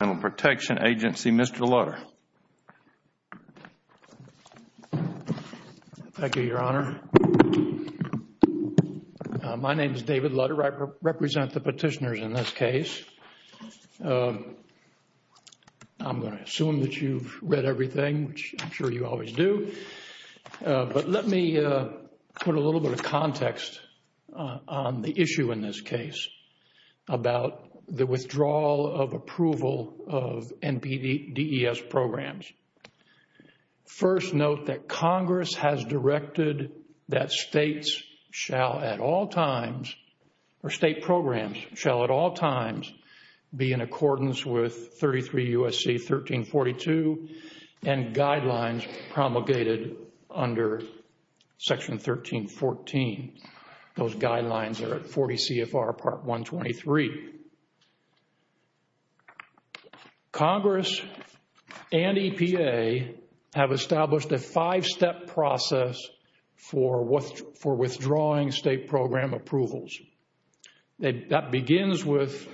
Mr. Lutter. Thank you, Your Honor. My name is David Lutter. I represent the petitioners in this case. I'm going to assume that you've read everything, which I'm sure you always do. But let me put a little bit of context on the issue in this case about the withdrawal of approval of NPDES programs. First note that Congress has directed that states shall at all times or state programs shall at all times be in accordance with 33 U.S.C. 1342 and guidelines promulgated under Section 1314. Those guidelines are at 40 CFR Part 123. Congress and EPA have established a five-step process for withdrawing state program approvals. That begins with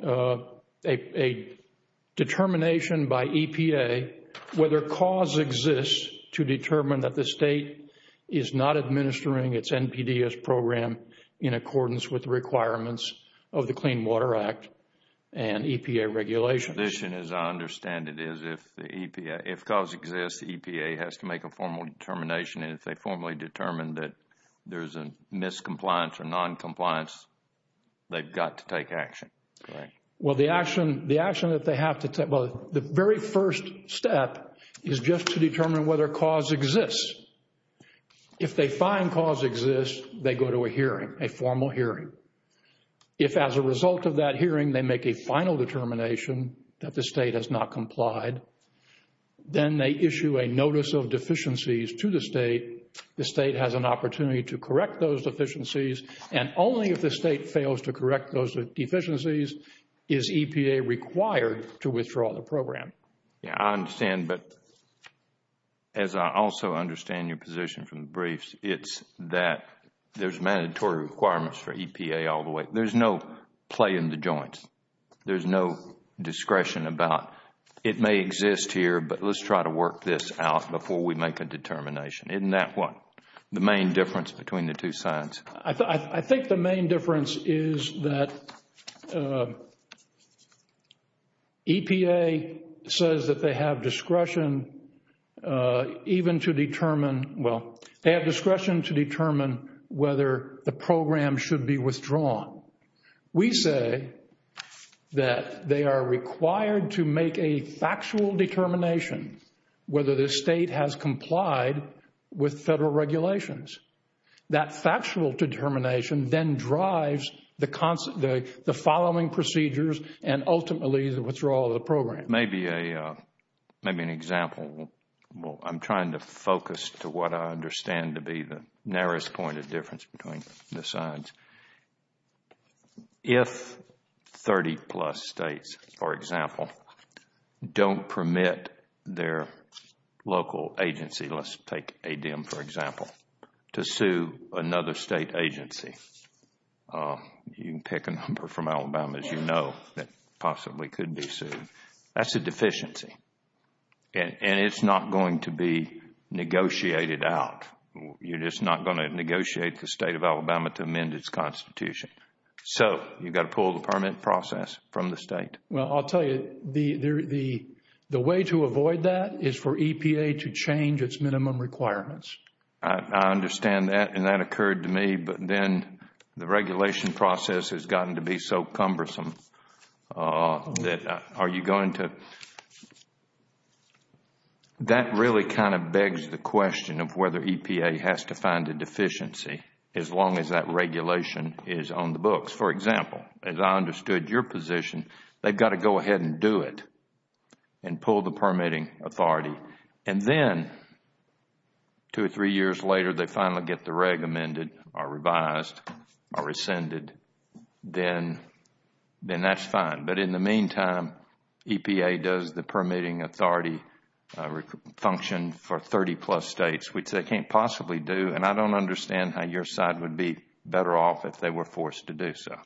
a determination by EPA whether cause exists to determine that the state is not administering its NPDES program in accordance with the requirements of the Clean Water Act and EPA regulations. As I understand it, if cause exists, EPA has to make a formal determination and if they formally determine that there's a miscompliance or noncompliance, they've got to take action. Correct. Well, the action that they have to take, well, the very first step is just to determine whether cause exists. If they find cause exists, they go to a hearing, a formal hearing. If as a result of that hearing, they make a final determination that the state has not complied, then they issue a notice of deficiencies to the state. The state has an opportunity to correct those deficiencies and only if the state fails to correct those deficiencies is EPA required to withdraw the program. Yeah, I understand, but as I also understand your position from the briefs, it's that there's mandatory requirements for EPA all the way. There's no play in the joints. There's no discretion about it may exist here, but let's try to work this out before we make a determination. Isn't that what the main difference between the two sides? I think the main difference is that EPA says that they have discretion even to determine, well, they have discretion to determine whether the program should be withdrawn. We say that they are required to make a factual determination whether the state has complied with federal regulations. That factual determination then drives the following procedures and ultimately the withdrawal of the program. Maybe an example. Well, I'm trying to focus to what I understand to be the point of difference between the sides. If 30 plus states, for example, don't permit their local agency, let's take ADEM for example, to sue another state agency. You can pick a number from Alabama as you know that possibly could be sued. That's a deficiency and it's not going to be negotiated out. You're just not going to negotiate the state of Alabama to amend its constitution. You've got to pull the permit process from the state. Well, I'll tell you, the way to avoid that is for EPA to change its minimum requirements. I understand that and that occurred to me, but then the regulation process has gotten to be cumbersome. That really begs the question of whether EPA has to find a deficiency as long as that regulation is on the books. For example, as I understood your position, they've got to go ahead and do it and pull the permitting authority. Then two or three years later, they finally get the reg amended or revised or rescinded. Then that's fine. In the meantime, EPA does the permitting authority function for 30 plus states, which they can't possibly do. I don't understand how your side would be better off if they were forced to do so.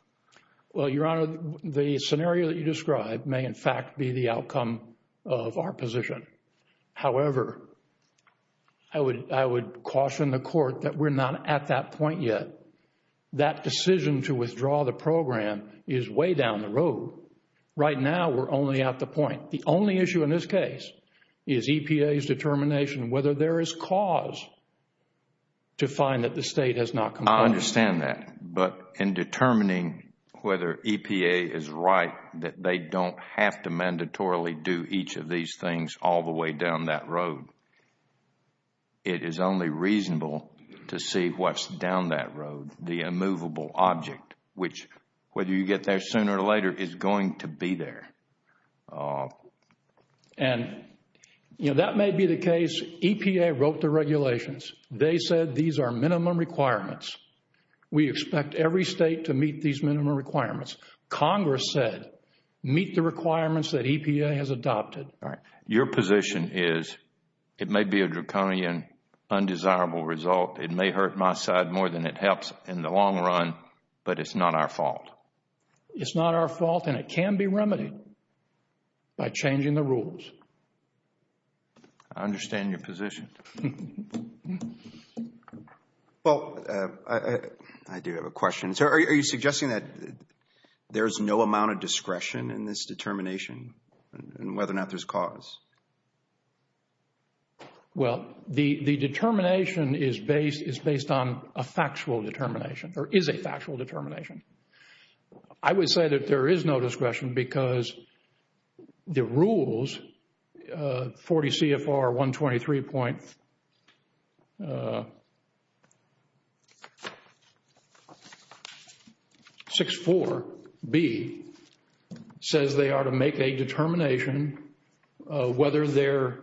Well, Your Honor, the scenario that you described may in fact be the outcome of our position. However, I would caution the Court that we're not at that point yet. That decision to withdraw the program is way down the road. Right now, we're only at the point. The only issue in this case is EPA's determination whether there is cause to find that the state has not complied. I understand that, but in determining whether EPA is right that they don't have to mandatorily do each of these things all the way down that road. It is only reasonable to see what's down that road, the immovable object, which whether you get there sooner or later, is going to be there. And that may be the case. EPA wrote the regulations. They said these are minimum requirements. We expect every state to meet these minimum requirements. Congress said, meet the requirements that EPA has adopted. All right. Your position is it may be a draconian, undesirable result. It may hurt my side more than it helps in the long run, but it's not our fault. It's not our fault and it can be remedied by changing the rules. I understand your position. Well, I do have a question. So, are you suggesting that there's no amount of discretion in this determination and whether or not there's cause? Well, the determination is based on a factual determination or is a factual determination. I would say that there is no discretion because the rules, 40 CFR 123.64B, says they are to make a determination whether the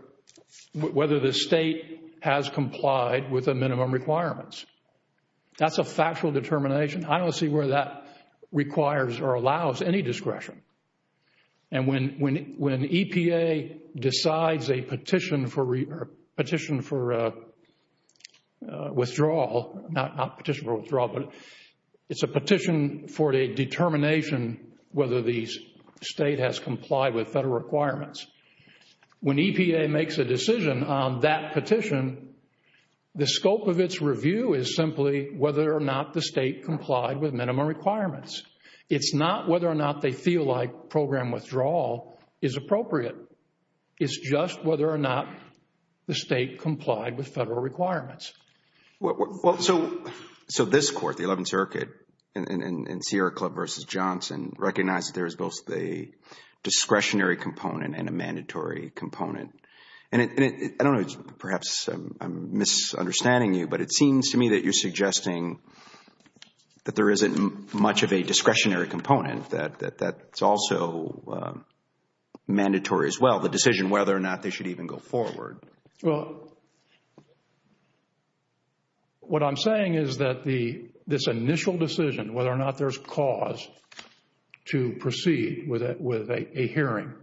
state has complied with the minimum requirements. That's a factual determination. I don't see where that requires or allows any discretion. And when EPA decides a petition for withdrawal, not petition for withdrawal, but it's a petition for a determination whether the state has complied with federal requirements. When EPA makes a decision on that petition, the scope of its review is simply whether or not the state complied with minimum requirements. It's not whether or not they feel like program withdrawal is appropriate. It's just whether or not the state complied with federal requirements. So, this court, the 11th Circuit, in Sierra Club versus Johnson, recognized there is both a discretionary component and a mandatory component. And I don't know, perhaps I'm misunderstanding you, but it seems to me that you're suggesting that there isn't much of a discretionary component that's also mandatory as well, the decision whether or not they should even go forward. Well, what I'm saying is that this initial decision, whether or not there's cause, to proceed with a hearing,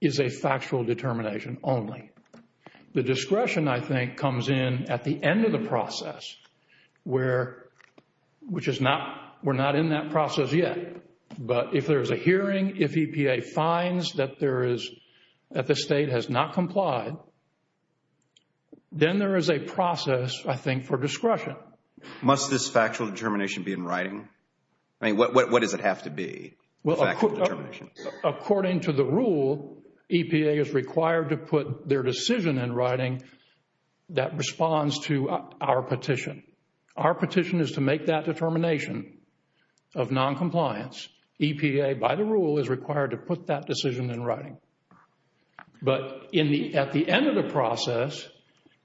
is a factual determination only. The discretion, I think, comes in at the end of the process, which is not, we're not in that process yet. But if there's a hearing, if EPA finds that there is, that the state has not complied, then there is a process, I think, for discretion. Must this factual determination be in writing? I mean, what does it have to be? According to the rule, EPA is required to put their decision in writing that responds to our petition. Our petition is to make that determination of noncompliance. EPA, by the rule, is required to put that decision in writing. But at the end of the process,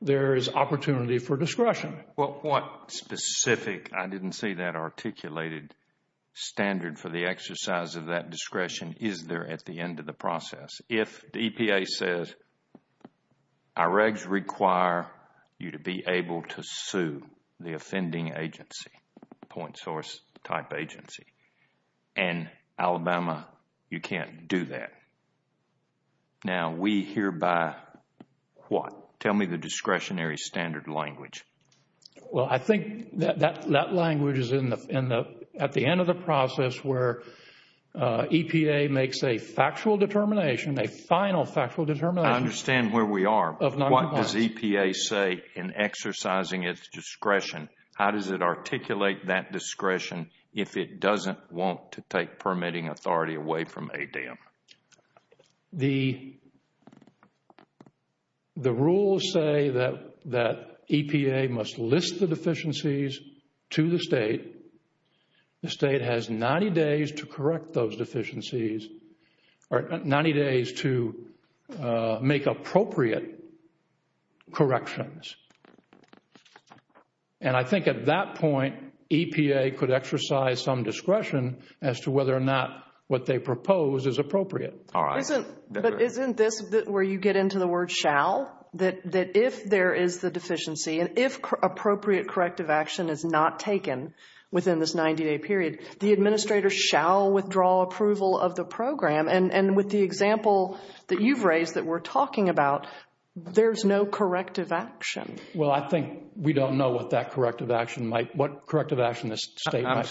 there is opportunity for discretion. Well, what specific, I didn't see that articulated, standard for the exercise of that discretion is there at the end of the process? If the EPA says, our regs require you to be able to sue the offending agency, point source type agency, and Alabama, you can't do that. Now, we hereby what? Tell me the discretionary standard language. Well, I think that language is at the end of the process where EPA makes a factual determination, a final factual determination. I understand where we are. What does EPA say in exercising its discretion? How does it articulate that discretion if it doesn't want to take permitting authority away from ADEM? The rules say that EPA must list the deficiencies to the state. The state has 90 days to correct those deficiencies or 90 days to make appropriate corrections. And I think at that point, EPA could exercise some discretion as to whether or not what they propose is appropriate. But isn't this where you get into the word shall, that if there is the deficiency and if appropriate corrective action is not taken within this 90-day period, the administrator shall withdraw approval of the program. And with the example that you've raised that we're talking about, there's no corrective action. Well, I think we don't know what that corrective action might, what corrective action this state proposes. I'm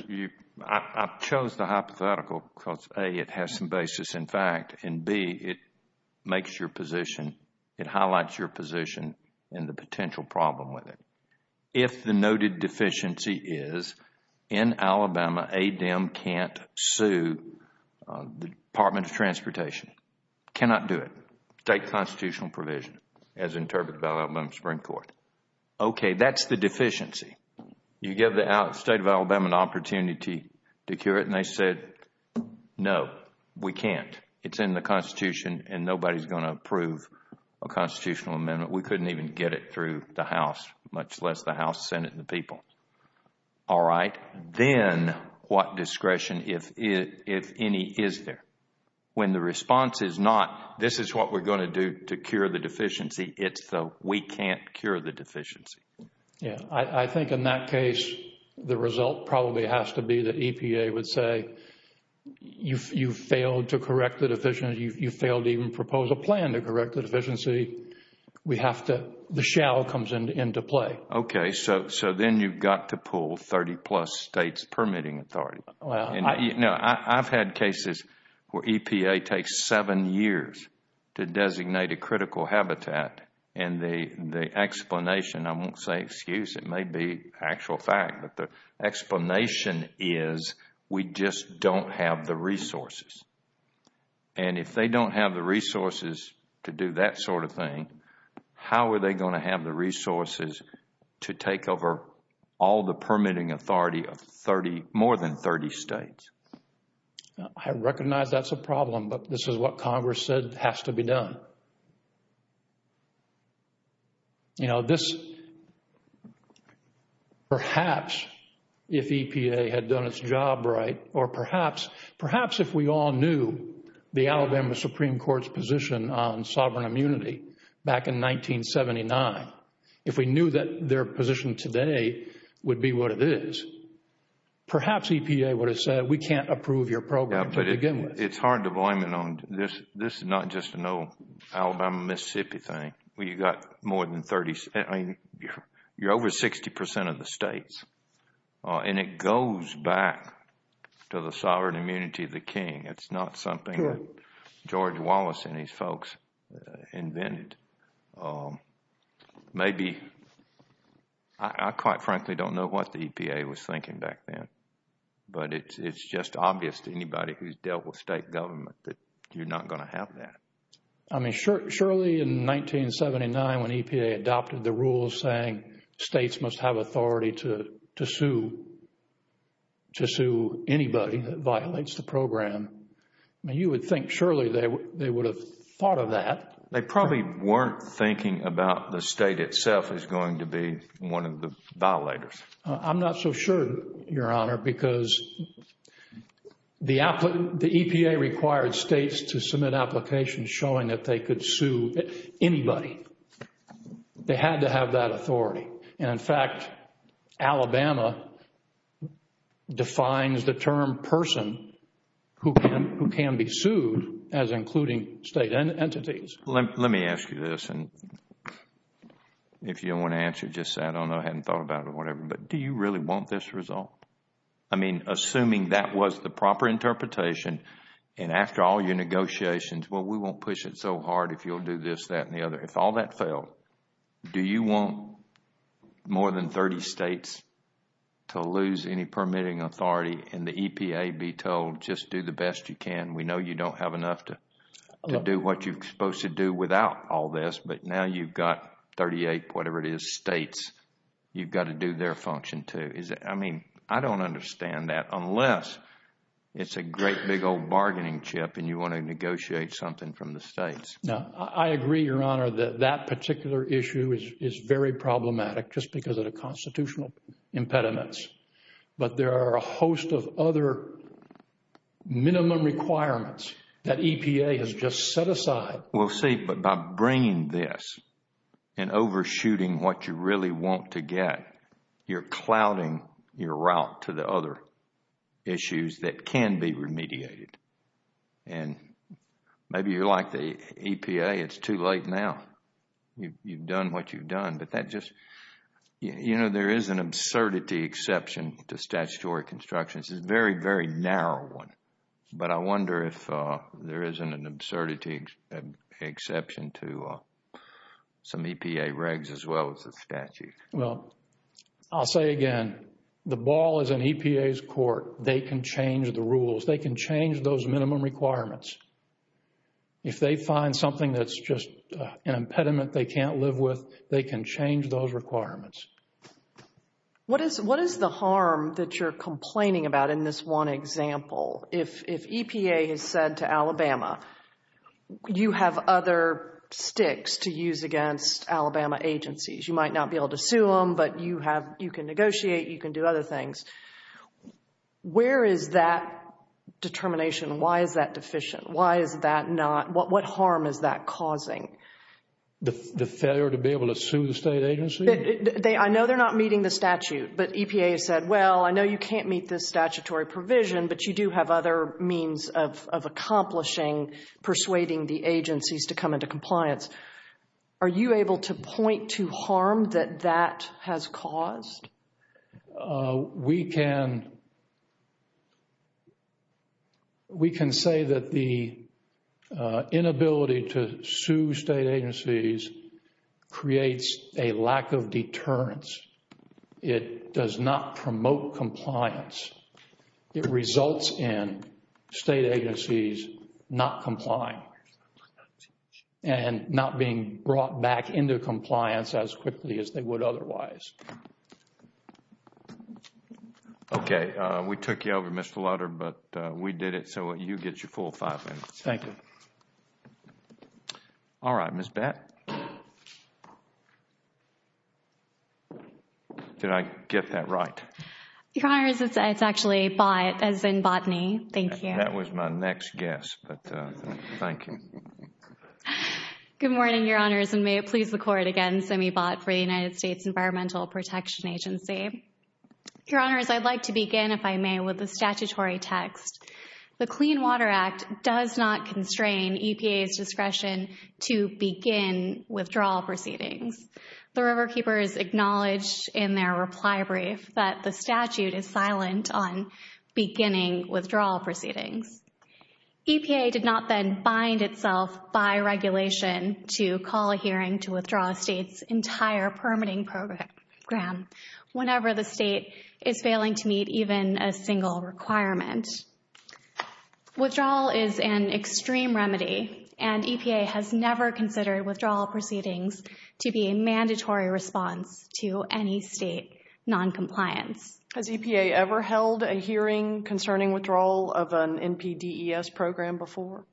sorry, I chose the hypothetical because A, it has some basis in fact, and B, it makes your position, it highlights your position and the potential problem with it. If the noted deficiency is in Alabama, ADEM can't sue the Department of Transportation, cannot do it, state constitutional provision as interpreted by the Alabama Supreme Court. Okay, that's the deficiency. You give the state of Alabama an opportunity to cure it and they said, no, we can't. It's in the Constitution and nobody's going to approve a constitutional amendment. We couldn't even get it through the House, much less the House, Senate and the people. All right, then what discretion, if any, is there? When the response is not, this is what we're going to do to cure the deficiency, it's the, we can't cure the deficiency. Yeah, I think in that case, the result probably has to be that EPA would say, you failed to correct the deficiency. You failed to even propose a plan to correct the deficiency. We have to, the shall comes into play. Okay, so then you've got to pull 30 plus states permitting authority. No, I've had cases where EPA takes seven years to designate a critical habitat and the explanation, I won't say excuse, it may be actual fact, but the explanation is we just don't have the resources. And if they don't have the resources to do that sort of thing, how are they going to have the authority states? I recognize that's a problem, but this is what Congress said has to be done. You know, this, perhaps if EPA had done its job right, or perhaps, perhaps if we all knew the Alabama Supreme Court's position on sovereign immunity back in 1979, if we knew that their would have said, we can't approve your program to begin with. It's hard to blame it on this. This is not just an old Alabama, Mississippi thing, where you've got more than 30, I mean, you're over 60% of the states. And it goes back to the sovereign immunity of the king. It's not something that George Wallace and his folks invented. Maybe, I quite frankly don't know what the EPA was it's just obvious to anybody who's dealt with state government that you're not going to have that. I mean, surely in 1979 when EPA adopted the rules saying states must have authority to sue, to sue anybody that violates the program. I mean, you would think surely they would have thought of that. They probably weren't thinking about the state itself as going to be one of the violators. I'm not so sure, Your Honor, because the EPA required states to submit applications showing that they could sue anybody. They had to have that authority. And in fact, Alabama defines the term person who can be sued as including state entities. Let me ask you this, and if you don't want to answer just that, I don't know, but do you really want this result? I mean, assuming that was the proper interpretation and after all your negotiations, well, we won't push it so hard if you'll do this, that, and the other. If all that failed, do you want more than 30 states to lose any permitting authority and the EPA be told just do the best you can? We know you don't have enough to do what you're supposed to do without all this, but now you've got 38, whatever it is, states. You've got to do their function too. I mean, I don't understand that unless it's a great big old bargaining chip and you want to negotiate something from the states. Now, I agree, Your Honor, that that particular issue is very problematic just because of the constitutional impediments. But there are a host of other minimum requirements that EPA has just set aside. We'll see, but by bringing this and overshooting what you really want to get, you're clouding your route to the other issues that can be remediated. And maybe you're like the EPA, it's too late now. You've done what you've done, but that just, you know, there is an absurdity exception to statutory constructions. It's a very, very narrow one, but I wonder if there isn't an absurdity exception to some EPA regs as well as the statute. Well, I'll say again, the ball is in EPA's court. They can change the rules. They can change those minimum requirements. If they find something that's just an impediment they can't live with, they can change those requirements. What is the harm that you're complaining about in this one example? If EPA has said to Alabama, you have other sticks to use against Alabama agencies. You might not be able to sue them, but you have, you can negotiate, you can do other things. Where is that determination? Why is that deficient? Why is that not, what harm is that causing? The failure to be able to sue the state agency? I know they're not meeting the statute, but EPA has said, well, I know you can't meet this agencies to come into compliance. Are you able to point to harm that that has caused? We can say that the inability to sue state agencies creates a lack of deterrence. It does not promote compliance. It results in state agencies not complying and not being brought back into compliance as quickly as they would otherwise. Okay, we took you over, Mr. Lutter, but we did it. So you get your full five minutes. Thank you. All right, Ms. Bett. Did I get that right? Your Honor, it's actually bot, as in botany. Thank you. That was my next guess, but thank you. Good morning, Your Honors, and may it please the Court again, Simi Bott for the United States Environmental Protection Agency. Your Honors, I'd like to begin, if I may, with the statutory text. The Clean Water Act does not constrain EPA's discretion to begin withdrawal proceedings. The Riverkeeper has acknowledged in their reply brief that the statute is silent on beginning withdrawal proceedings. EPA did not then bind itself by regulation to call a hearing to withdraw a state's entire permitting program whenever the state is failing to meet even a single requirement. Withdrawal is an extreme remedy, and EPA has never considered withdrawal proceedings to be a mandatory response to any state noncompliance. Has EPA ever held a hearing concerning withdrawal of an NPDES program before?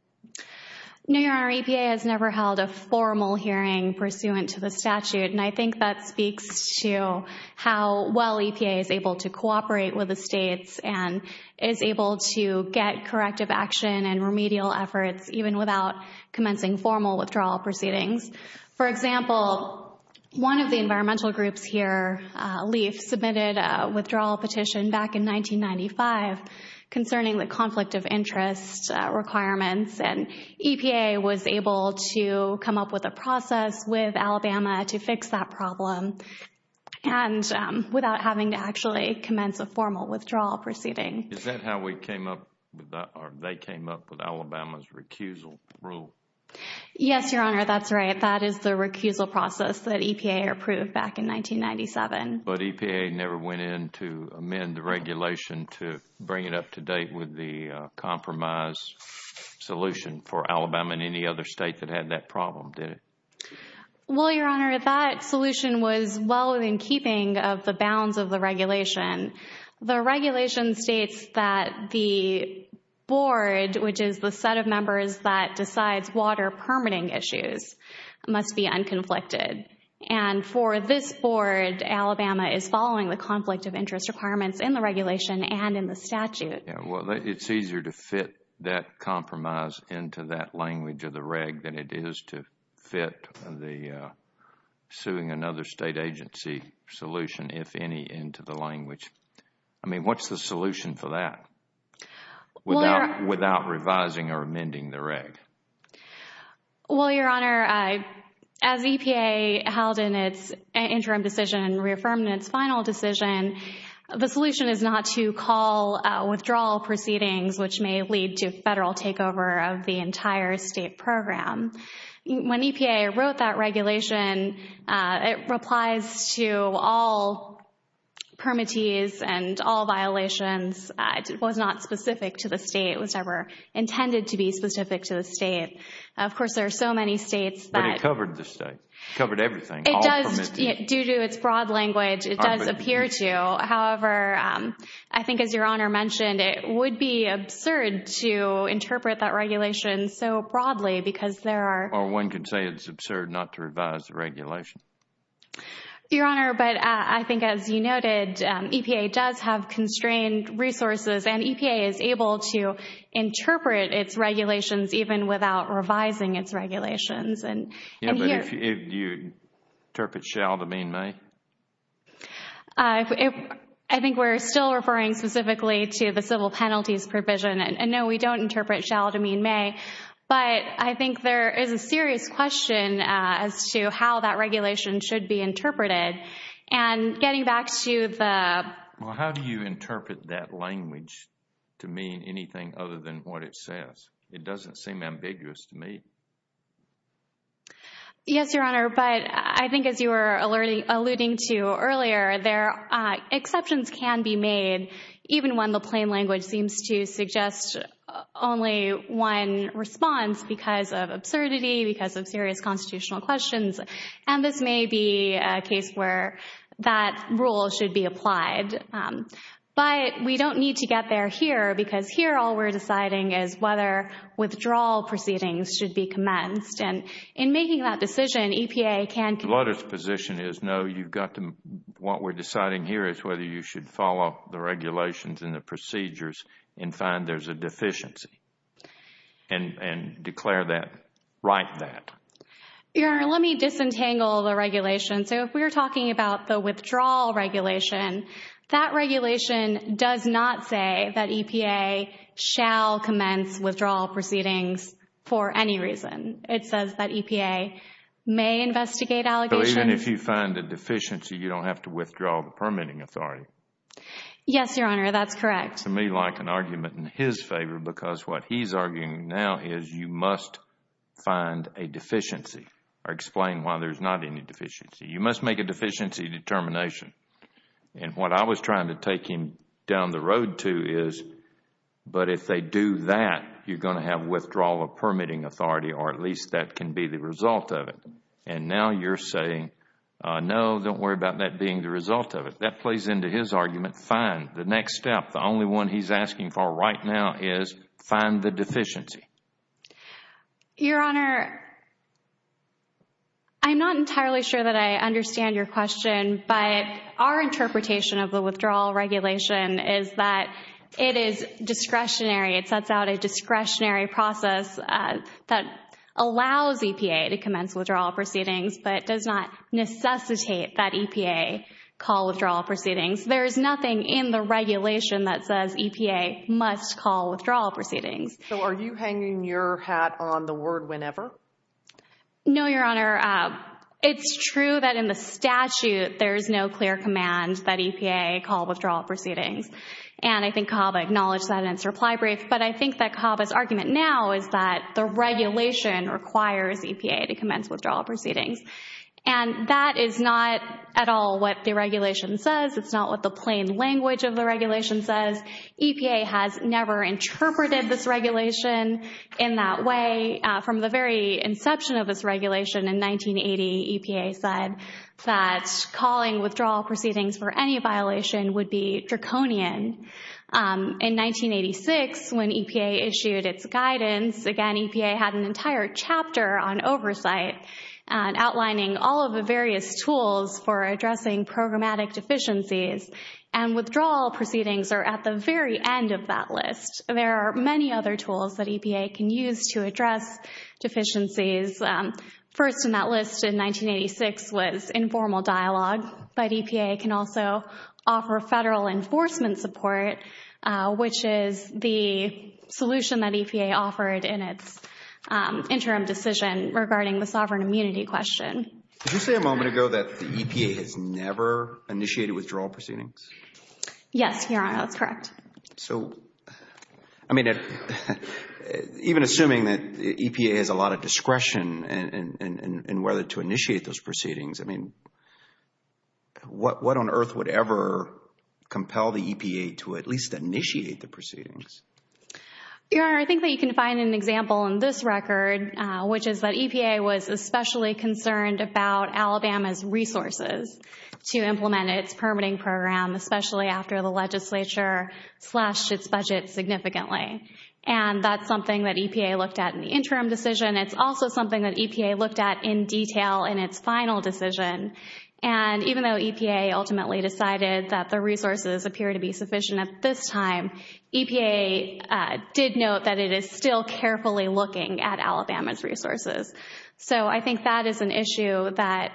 No, Your Honor. EPA has never held a formal hearing pursuant to the statute, and I think that speaks to how well EPA is able to cooperate with the states and is able to get corrective action and remedial efforts even without commencing formal withdrawal proceedings. For example, one of the environmental groups here, LEAF, submitted a withdrawal petition back in 1995 concerning the conflict of interest requirements, and EPA was able to come up with a process with Alabama to fix that problem and without having to actually commence a formal withdrawal proceeding. Is that how they came up with Alabama's recusal rule? Yes, Your Honor, that's right. That is the recusal process that EPA approved back in 1997. But EPA never went in to amend the regulation to bring it up to date with the compromise solution for Alabama and any other state that had that problem, did it? Well, Your Honor, that solution was well within keeping of the bounds of the regulation. The regulation states that the board, which is the set of members that decides water permitting issues, must be unconflicted. And for this board, Alabama is following the conflict of interest requirements in the regulation and in the statute. It's easier to fit that compromise into that language of the reg than it is to fit the other state agency solution, if any, into the language. I mean, what's the solution for that without revising or amending the reg? Well, Your Honor, as EPA held in its interim decision and reaffirmed in its final decision, the solution is not to call withdrawal proceedings, which may lead to federal reprisals. It applies to all permittees and all violations. It was not specific to the state. It was never intended to be specific to the state. Of course, there are so many states that... But it covered the state. It covered everything. It does. Due to its broad language, it does appear to. However, I think as Your Honor mentioned, it would be absurd to interpret that regulation so broadly because there are... Or one could say it's absurd not to revise the regulation. Your Honor, but I think as you noted, EPA does have constrained resources and EPA is able to interpret its regulations even without revising its regulations. Yeah, but if you interpret shall to mean may? I think we're still referring specifically to the civil penalties provision. And no, we don't interpret shall to mean may. But I think there is a serious question as to how that regulation should be interpreted. And getting back to the... Well, how do you interpret that language to mean anything other than what it says? It doesn't seem ambiguous to me. Yes, Your Honor. But I think as you were alluding to earlier, there are exceptions can be made even when the plain language seems to suggest only one response because of absurdity, because of serious constitutional questions. And this may be a case where that rule should be applied. But we don't need to get there here because here all we're deciding is whether withdrawal proceedings should be commenced. And in making that decision, EPA can... Lutter's position is no, you've got to... What we're deciding here is whether you should follow the regulations and the procedures and find there's a deficiency and declare that, write that. Your Honor, let me disentangle the regulation. So if we're talking about the withdrawal regulation, that regulation does not say that EPA shall commence withdrawal proceedings for any reason. It says that EPA may investigate allegations... Even if you find a deficiency, you don't have to withdraw the permitting authority. Yes, Your Honor, that's correct. To me, like an argument in his favor because what he's arguing now is you must find a deficiency or explain why there's not any deficiency. You must make a deficiency determination. And what I was trying to take him down the road to is, but if they do that, you're going to have withdrawal of permitting authority or at least that can be the result of it. And now you're saying, no, don't worry about that being the result of it. That plays into his argument, fine, the next step, the only one he's asking for right now is find the deficiency. Your Honor, I'm not entirely sure that I understand your question, but our interpretation of the withdrawal regulation is that it is discretionary. It sets out a discretionary process that allows EPA to commence withdrawal proceedings, but does not necessitate that EPA call withdrawal proceedings. There is nothing in the regulation that says EPA must call withdrawal proceedings. So are you hanging your hat on the word whenever? No, Your Honor. It's true that in the statute, there's no clear command that EPA call withdrawal proceedings. And I think KABA acknowledged that in its reply brief, but I think that KABA's argument now is that the regulation requires EPA to commence withdrawal proceedings. And that is not at all what the regulation says. It's not what the plain language of the regulation says. EPA has never interpreted this regulation in that way. From the very inception of this regulation in 1980, EPA said that calling withdrawal proceedings for any violation would be draconian. In 1986, when EPA issued its guidance, again, EPA had an entire chapter on oversight outlining all of the various tools for addressing programmatic deficiencies, and withdrawal proceedings are at the very end of that list. There are many other tools that in 1986 was informal dialogue, but EPA can also offer federal enforcement support, which is the solution that EPA offered in its interim decision regarding the sovereign immunity question. Did you say a moment ago that the EPA has never initiated withdrawal proceedings? Yes, Your Honor. That's correct. So, I mean, even assuming that EPA has a lot of discretion in whether to initiate those proceedings, I mean, what on earth would ever compel the EPA to at least initiate the proceedings? Your Honor, I think that you can find an example in this record, which is that EPA was especially concerned about Alabama's resources to implement its permitting program, especially after the legislature slashed its budget significantly. And that's something that EPA looked at in the in detail in its final decision. And even though EPA ultimately decided that the resources appear to be sufficient at this time, EPA did note that it is still carefully looking at Alabama's resources. So, I think that is an issue that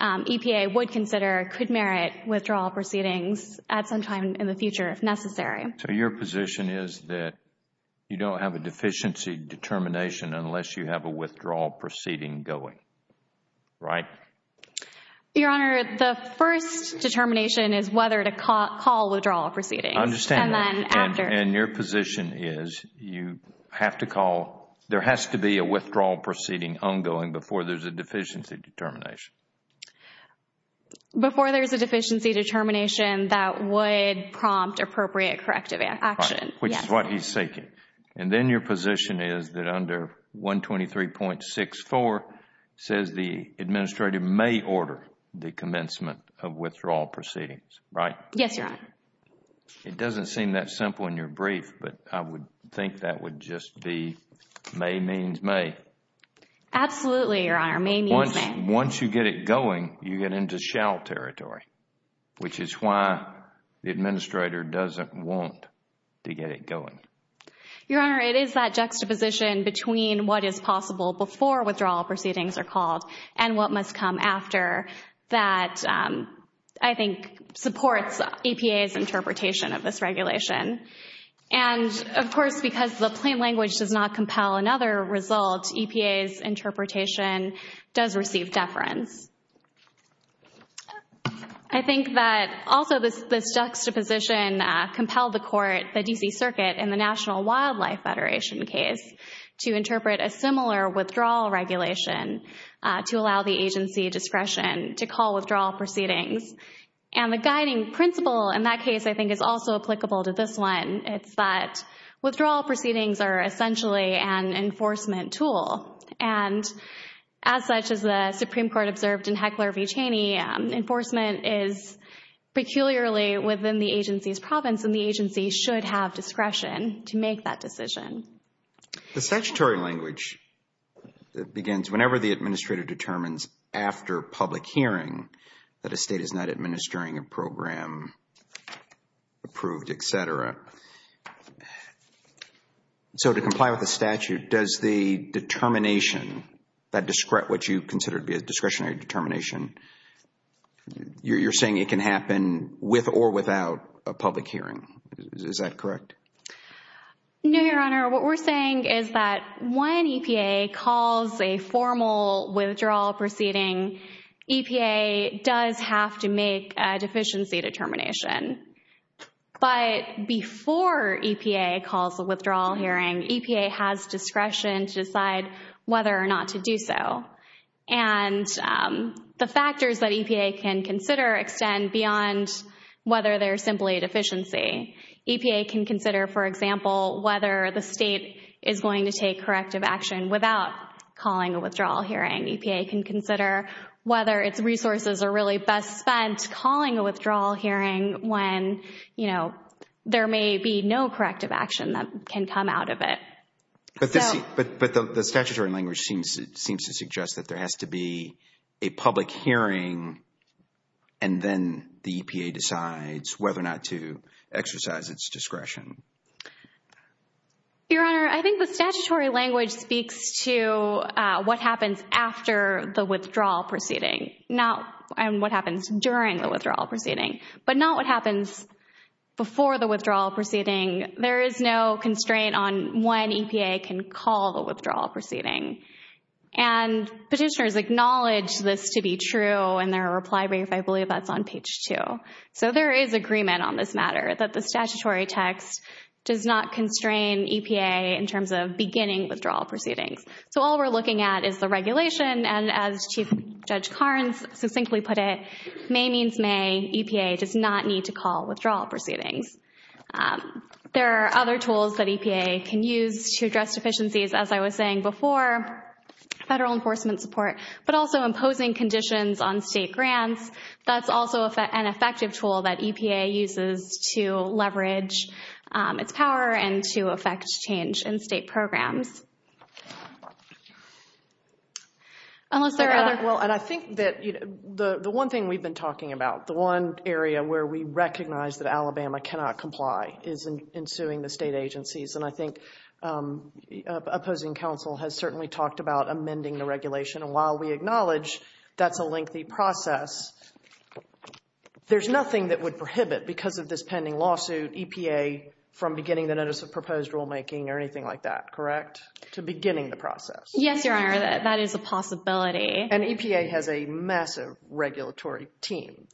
EPA would consider could merit withdrawal proceedings at some time in the future if necessary. So, your position is that you don't have a withdrawal proceeding going, right? Your Honor, the first determination is whether to call withdrawal proceedings. I understand that. And your position is you have to call, there has to be a withdrawal proceeding ongoing before there's a deficiency determination. Before there's a deficiency determination that would prompt appropriate corrective action. Right, which is what he's seeking. And then your position is that under 123.64 says the administrator may order the commencement of withdrawal proceedings, right? Yes, Your Honor. It doesn't seem that simple in your brief, but I would think that would just be may means may. Absolutely, Your Honor, may means may. Once you get it going, you get into shall territory, which is why the administrator doesn't want to get it going. Your Honor, it is that juxtaposition between what is possible before withdrawal proceedings are called and what must come after that I think supports EPA's interpretation of this regulation. And, of course, because the plain language does not compel another result, EPA's interpretation does receive deference. I think that also this juxtaposition compelled the court, the D.C. Circuit, in the National Wildlife Federation case to interpret a similar withdrawal regulation to allow the agency discretion to call withdrawal proceedings. And the guiding principle in that case I think is also applicable to this one. It's that withdrawal proceedings are essentially an enforcement tool. And as such as the Supreme Court observed in Heckler v. Cheney, enforcement is peculiarly within the agency's province and the agency should have discretion to make that decision. The statutory language begins whenever the administrator determines after public hearing that a state is not administering a program approved, etc. So, to comply with the statute, does the determination, what you consider to be a discretionary determination, you're saying it can happen with or without a public hearing. Is that correct? No, Your Honor. What we're saying is that when EPA calls a formal withdrawal proceeding, EPA does have to make a deficiency determination. But before EPA calls a withdrawal hearing, EPA has discretion to decide whether or not to do so. And the factors that EPA can consider extend beyond whether they're simply a deficiency. EPA can consider, for example, whether the state is going to take corrective action without calling a withdrawal hearing. EPA can consider whether its resources are really best spent calling a withdrawal hearing when, you know, there may be no corrective action that can come out of it. But the statutory language seems to suggest that there has to be a public hearing and then the EPA decides whether or not to exercise its discretion. Your Honor, I think the statutory language speaks to what happens after the withdrawal proceeding, not what happens during the withdrawal proceeding. But not what happens before the withdrawal proceeding. There is no constraint on when EPA can call the withdrawal proceeding. And petitioners acknowledge this to be true in their reply brief. I believe that's on page 2. So there is agreement on this matter that the statutory text does not constrain EPA in terms of beginning withdrawal proceedings. So all we're looking at is the regulation and, as Chief Judge Carnes succinctly put it, may means may, EPA does not need to call withdrawal proceedings. There are other tools that EPA can use to address deficiencies, as I was saying before, federal enforcement support, but also imposing conditions on state grants. That's also an effective tool that EPA uses to leverage its power and to effect change in state programs. Unless there are other... Well, and I think that the one thing we've been talking about, the one area where we recognize that Alabama cannot comply is in suing the state agencies. And I think opposing counsel has certainly talked about amending the regulation. And while we acknowledge that's a lengthy process, there's nothing that would prohibit, because of this pending lawsuit, EPA from beginning the notice of proposed rulemaking or anything like that, correct? To beginning the process. Yes, Your Honor, that is a possibility. And EPA has a massive regulatory team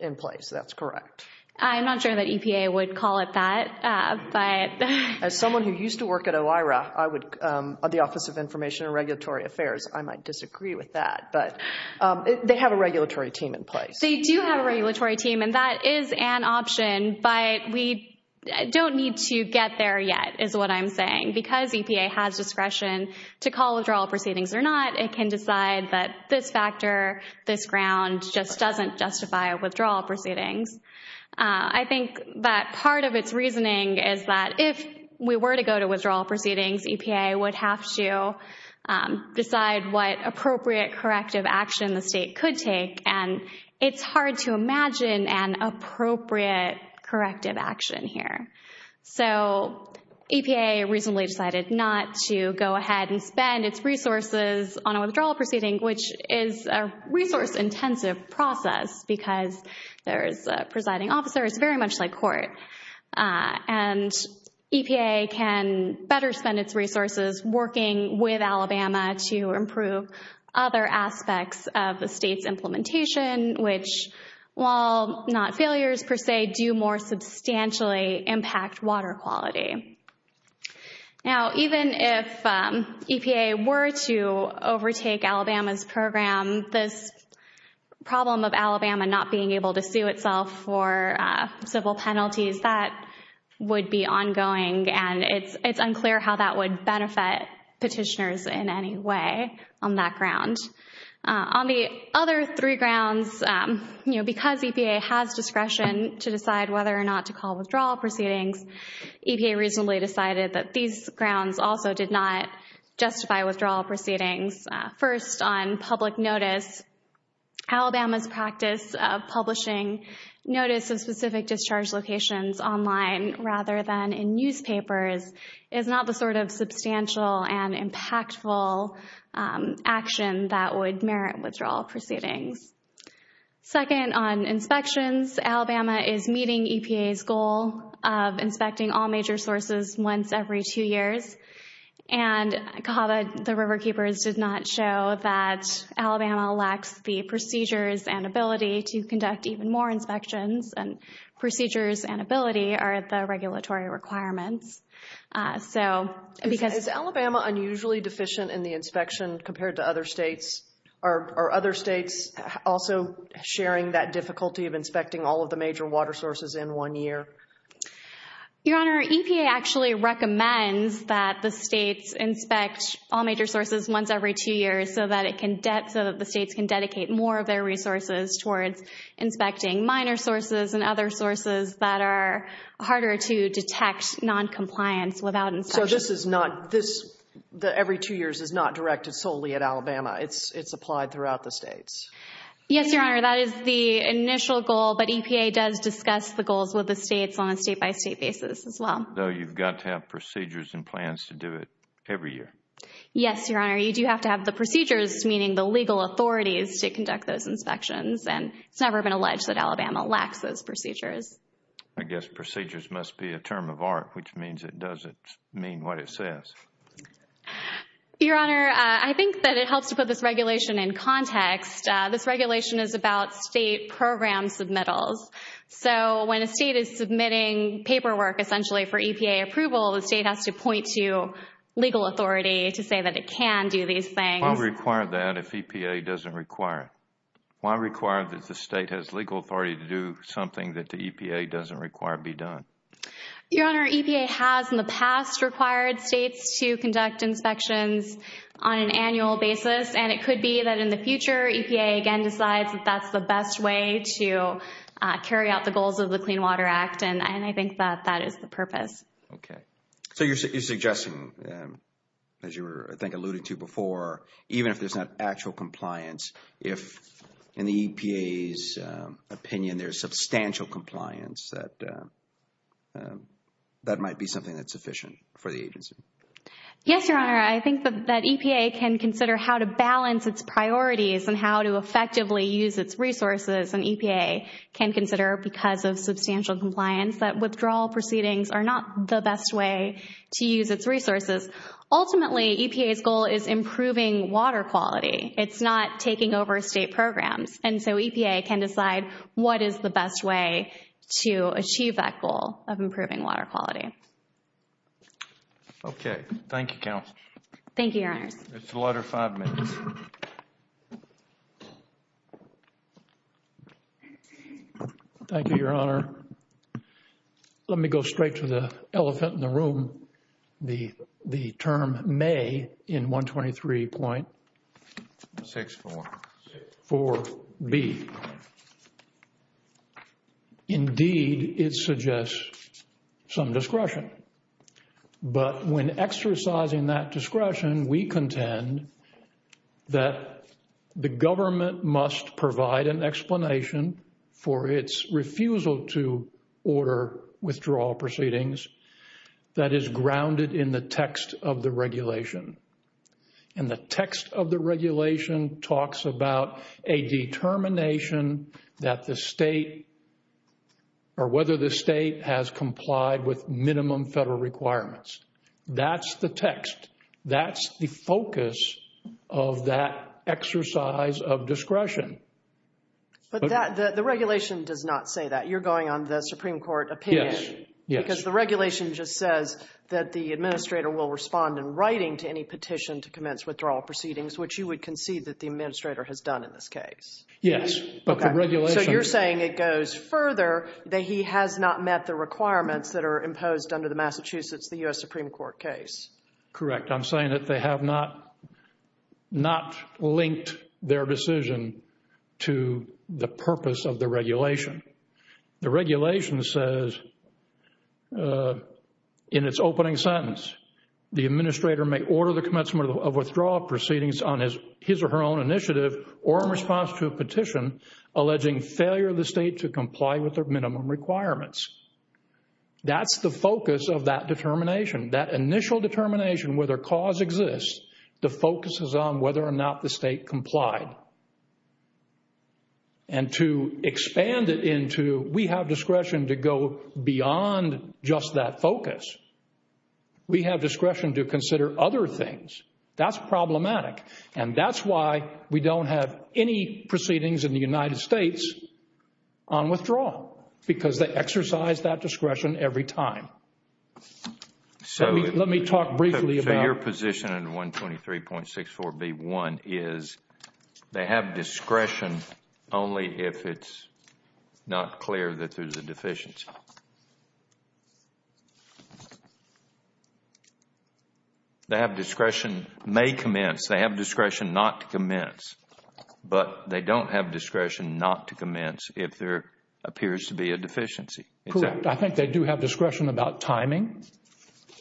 in place. That's correct. I'm not sure that EPA would call it that, but... As someone who used to work at OIRA, the Office of Information and Regulatory Affairs, I might disagree with that, but they have a regulatory team in place. They do have a regulatory team, and that is an option, but we don't need to get there yet, is what I'm saying. Because EPA has discretion to call withdrawal proceedings or not, it can decide that this factor, this ground just doesn't justify withdrawal proceedings. I think that part of its reasoning is that if we were to go to withdrawal proceedings, EPA would have to decide what appropriate corrective action the state could take. And it's hard to imagine an appropriate corrective action here. So EPA recently decided not to go ahead and spend its resources on a withdrawal proceeding, which is a resource-intensive process, because there's presiding officers, very much like court. And EPA can better spend its resources working with Alabama to improve other aspects of the state's implementation, which, while not failures per se, do more substantially impact water quality. Now, even if EPA were to overtake Alabama's program, this problem of Alabama not being able to sue itself for civil penalties, that would be ongoing, and it's unclear how that would benefit petitioners in any way on that ground. On the other three grounds, because EPA has discretion to decide whether or not to call withdrawal proceedings, EPA recently decided that these grounds also did not justify withdrawal proceedings. First, on public notice, Alabama's practice of publishing notice of specific discharge locations online, rather than in newspapers, is not the sort of substantial and impactful action that would merit withdrawal proceedings. Second, on inspections, Alabama is meeting EPA's goal of inspecting all major sources once every two years, and COHAVA, the Riverkeepers, did not show that Alabama lacks the procedures and ability to conduct even more inspections, and procedures and ability are the regulatory requirements. So, because... Is Alabama unusually deficient in the inspection compared to other states? Are other states also sharing that difficulty of inspecting all of the major water sources in one year? Your Honor, EPA actually recommends that the states inspect all major sources once every two years so that the states can dedicate more of their resources towards inspecting minor sources and other sources that are harder to detect non-compliance without inspection. So, this is not... Every two years is not directed solely at Alabama. It's applied throughout the states. Yes, Your Honor, that is the initial goal, but EPA does discuss the goals with the states on a state-by-state basis as well. So, you've got to have procedures and plans to do it every year? Yes, Your Honor, you do have to have the procedures, meaning the legal authorities, to conduct those inspections, and it's never been alleged that Alabama lacks those procedures. I guess procedures must be a term of art, which means it doesn't mean what it says. Your Honor, I think that it helps to put this regulation in So, when a state is submitting paperwork essentially for EPA approval, the state has to point to legal authority to say that it can do these things. Why require that if EPA doesn't require it? Why require that the state has legal authority to do something that the EPA doesn't require be done? Your Honor, EPA has in the past required states to conduct inspections on an annual basis, and it could be that in the future EPA again decides that that's the best way to carry out the goals of the Clean Water Act, and I think that that is the purpose. Okay, so you're suggesting, as you were I think alluding to before, even if there's not actual compliance, if in the EPA's opinion there's substantial compliance, that might be something that's sufficient for the agency? Yes, Your Honor, I think that EPA can consider how to balance its can consider because of substantial compliance that withdrawal proceedings are not the best way to use its resources. Ultimately, EPA's goal is improving water quality. It's not taking over state programs, and so EPA can decide what is the best way to achieve that goal of improving water quality. Thank you, Your Honor. Let me go straight to the elephant in the room. The term may in 123.64.4b. Indeed, it suggests some discretion, but when exercising that discretion, we contend that the government must provide an explanation for its refusal to order withdrawal proceedings that is grounded in the text of the regulation, and the text of the regulation talks about a determination that the state or whether the state has complied with minimum federal requirements. That's the text. That's the focus of that exercise of discretion. But the regulation does not say that. You're going on the Supreme Court opinion? Yes, yes. Because the regulation just says that the administrator will respond in writing to any petition to commence withdrawal proceedings, which you would concede that the administrator has done in this case? Yes, but the regulation... So you're saying it goes further that he has not met the requirements that are imposed under the Massachusetts, the U.S. Supreme Court case? Correct. I'm saying that they have not linked their decision to the purpose of the regulation. The regulation says in its opening sentence, the administrator may order the commencement of withdrawal proceedings on his or her own initiative or in response to a petition alleging failure of the state to comply with their minimum requirements. That's the focus of that determination. That initial determination whether cause exists, the focus is on whether or not the state complied. And to expand it into, we have discretion to go beyond just that focus. We have discretion to consider other things. That's problematic. And that's why we don't have any proceedings in the United States on withdrawal, because they exercise that discretion every time. So let me talk briefly about... So your position in 123.64b1 is they have discretion only if it's not clear that there's a deficiency. They have discretion, may commence. They have discretion not to commence, but they don't have discretion not to commence if there appears to be a deficiency. Correct. I think they do have discretion about timing.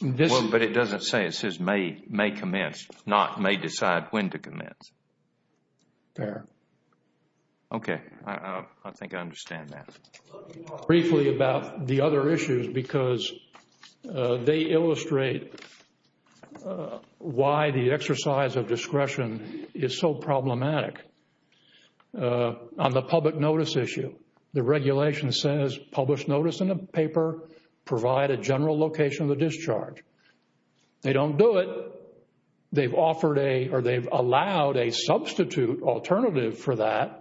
But it doesn't say it says may commence, not may decide when to commence. Fair. Okay. I think I understand that. Briefly about the other issues, because they illustrate why the exercise of discretion is so problematic. On the public notice issue, the regulation says publish notice in a paper, provide a general location of the discharge. They don't do it. They've offered a, or they've allowed a substitute alternative for that.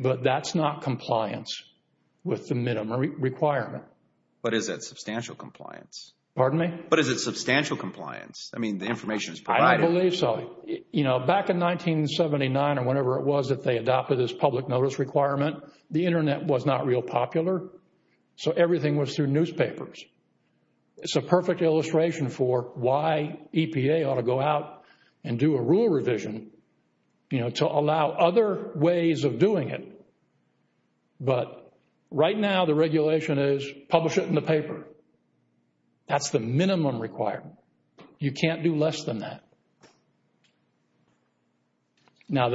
But that's not compliance with the minimum requirement. But is it substantial compliance? Pardon me? But is it substantial compliance? I mean, the information is provided. I believe so. Back in 1979 or whenever it was that they adopted this public notice requirement, the internet was not real popular. So everything was through newspapers. It's a perfect illustration for why EPA ought to go out and do a rule revision to allow other ways of doing it. But right now the regulation is publish it in the paper. That's the minimum requirement. You can't do less than that. Now,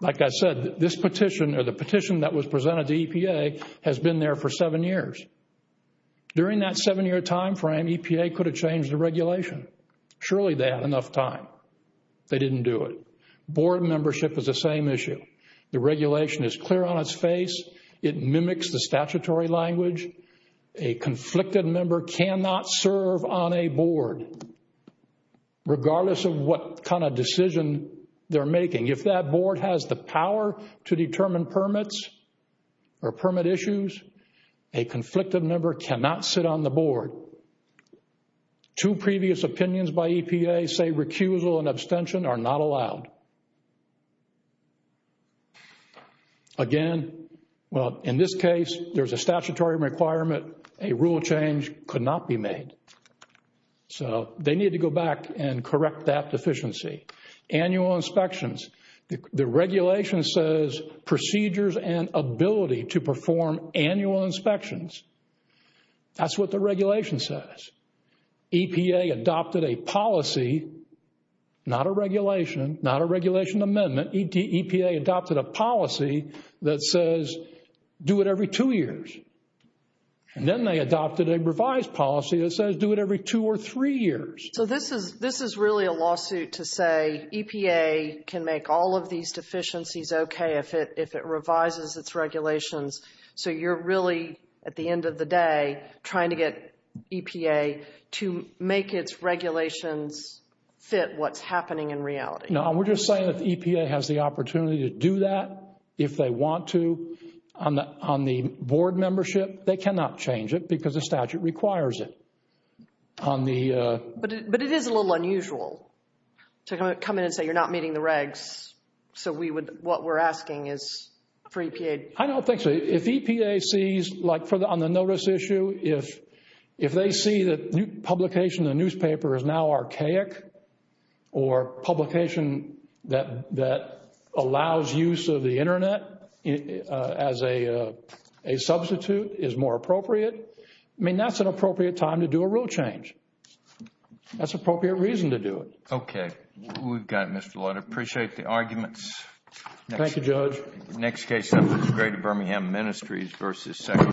like I said, this petition or the petition that was presented to EPA has been there for seven years. During that seven year time frame, EPA could have changed the regulation. Surely they had enough time. They didn't do it. Board membership is the same issue. The regulation is clear on its face. It mimics the statutory language. A conflicted member cannot serve on a board regardless of what kind of decision they're making. If that board has the power to determine permits or permit issues, a conflicted member cannot sit on the board. Two previous opinions by EPA say recusal and abstention are not allowed. Again, well, in this case, there's a statutory requirement. A rule change could not be made. So they need to go back and correct that deficiency. Annual inspections, the regulation says procedures and ability to perform annual inspections. That's what the regulation says. EPA adopted a policy, not a regulation, not a regulation amendment. EPA adopted a policy that says do it every two years. And then they adopted a revised policy that says do it every two or three years. So this is really a lawsuit to say EPA can make all of these deficiencies okay if it revises its regulations. So you're really, at the end of the day, trying to get EPA to make its regulations fit what's happening in reality. No, we're just saying that the EPA has the opportunity to do that if they want to. On the board membership, they cannot change it because the statute requires it. But it is a little unusual to come in and say you're not meeting the regs. So we would, what we're asking is for EPA. I don't think so. If EPA sees, like on the notice issue, if they see that publication in the newspaper is now archaic or publication that allows use of the internet as a substitute is more appropriate, I mean, that's an appropriate time to do a rule change. That's appropriate reason to do it. Okay. We've got it, Mr. Lloyd. Appreciate the arguments. Thank you, Judge.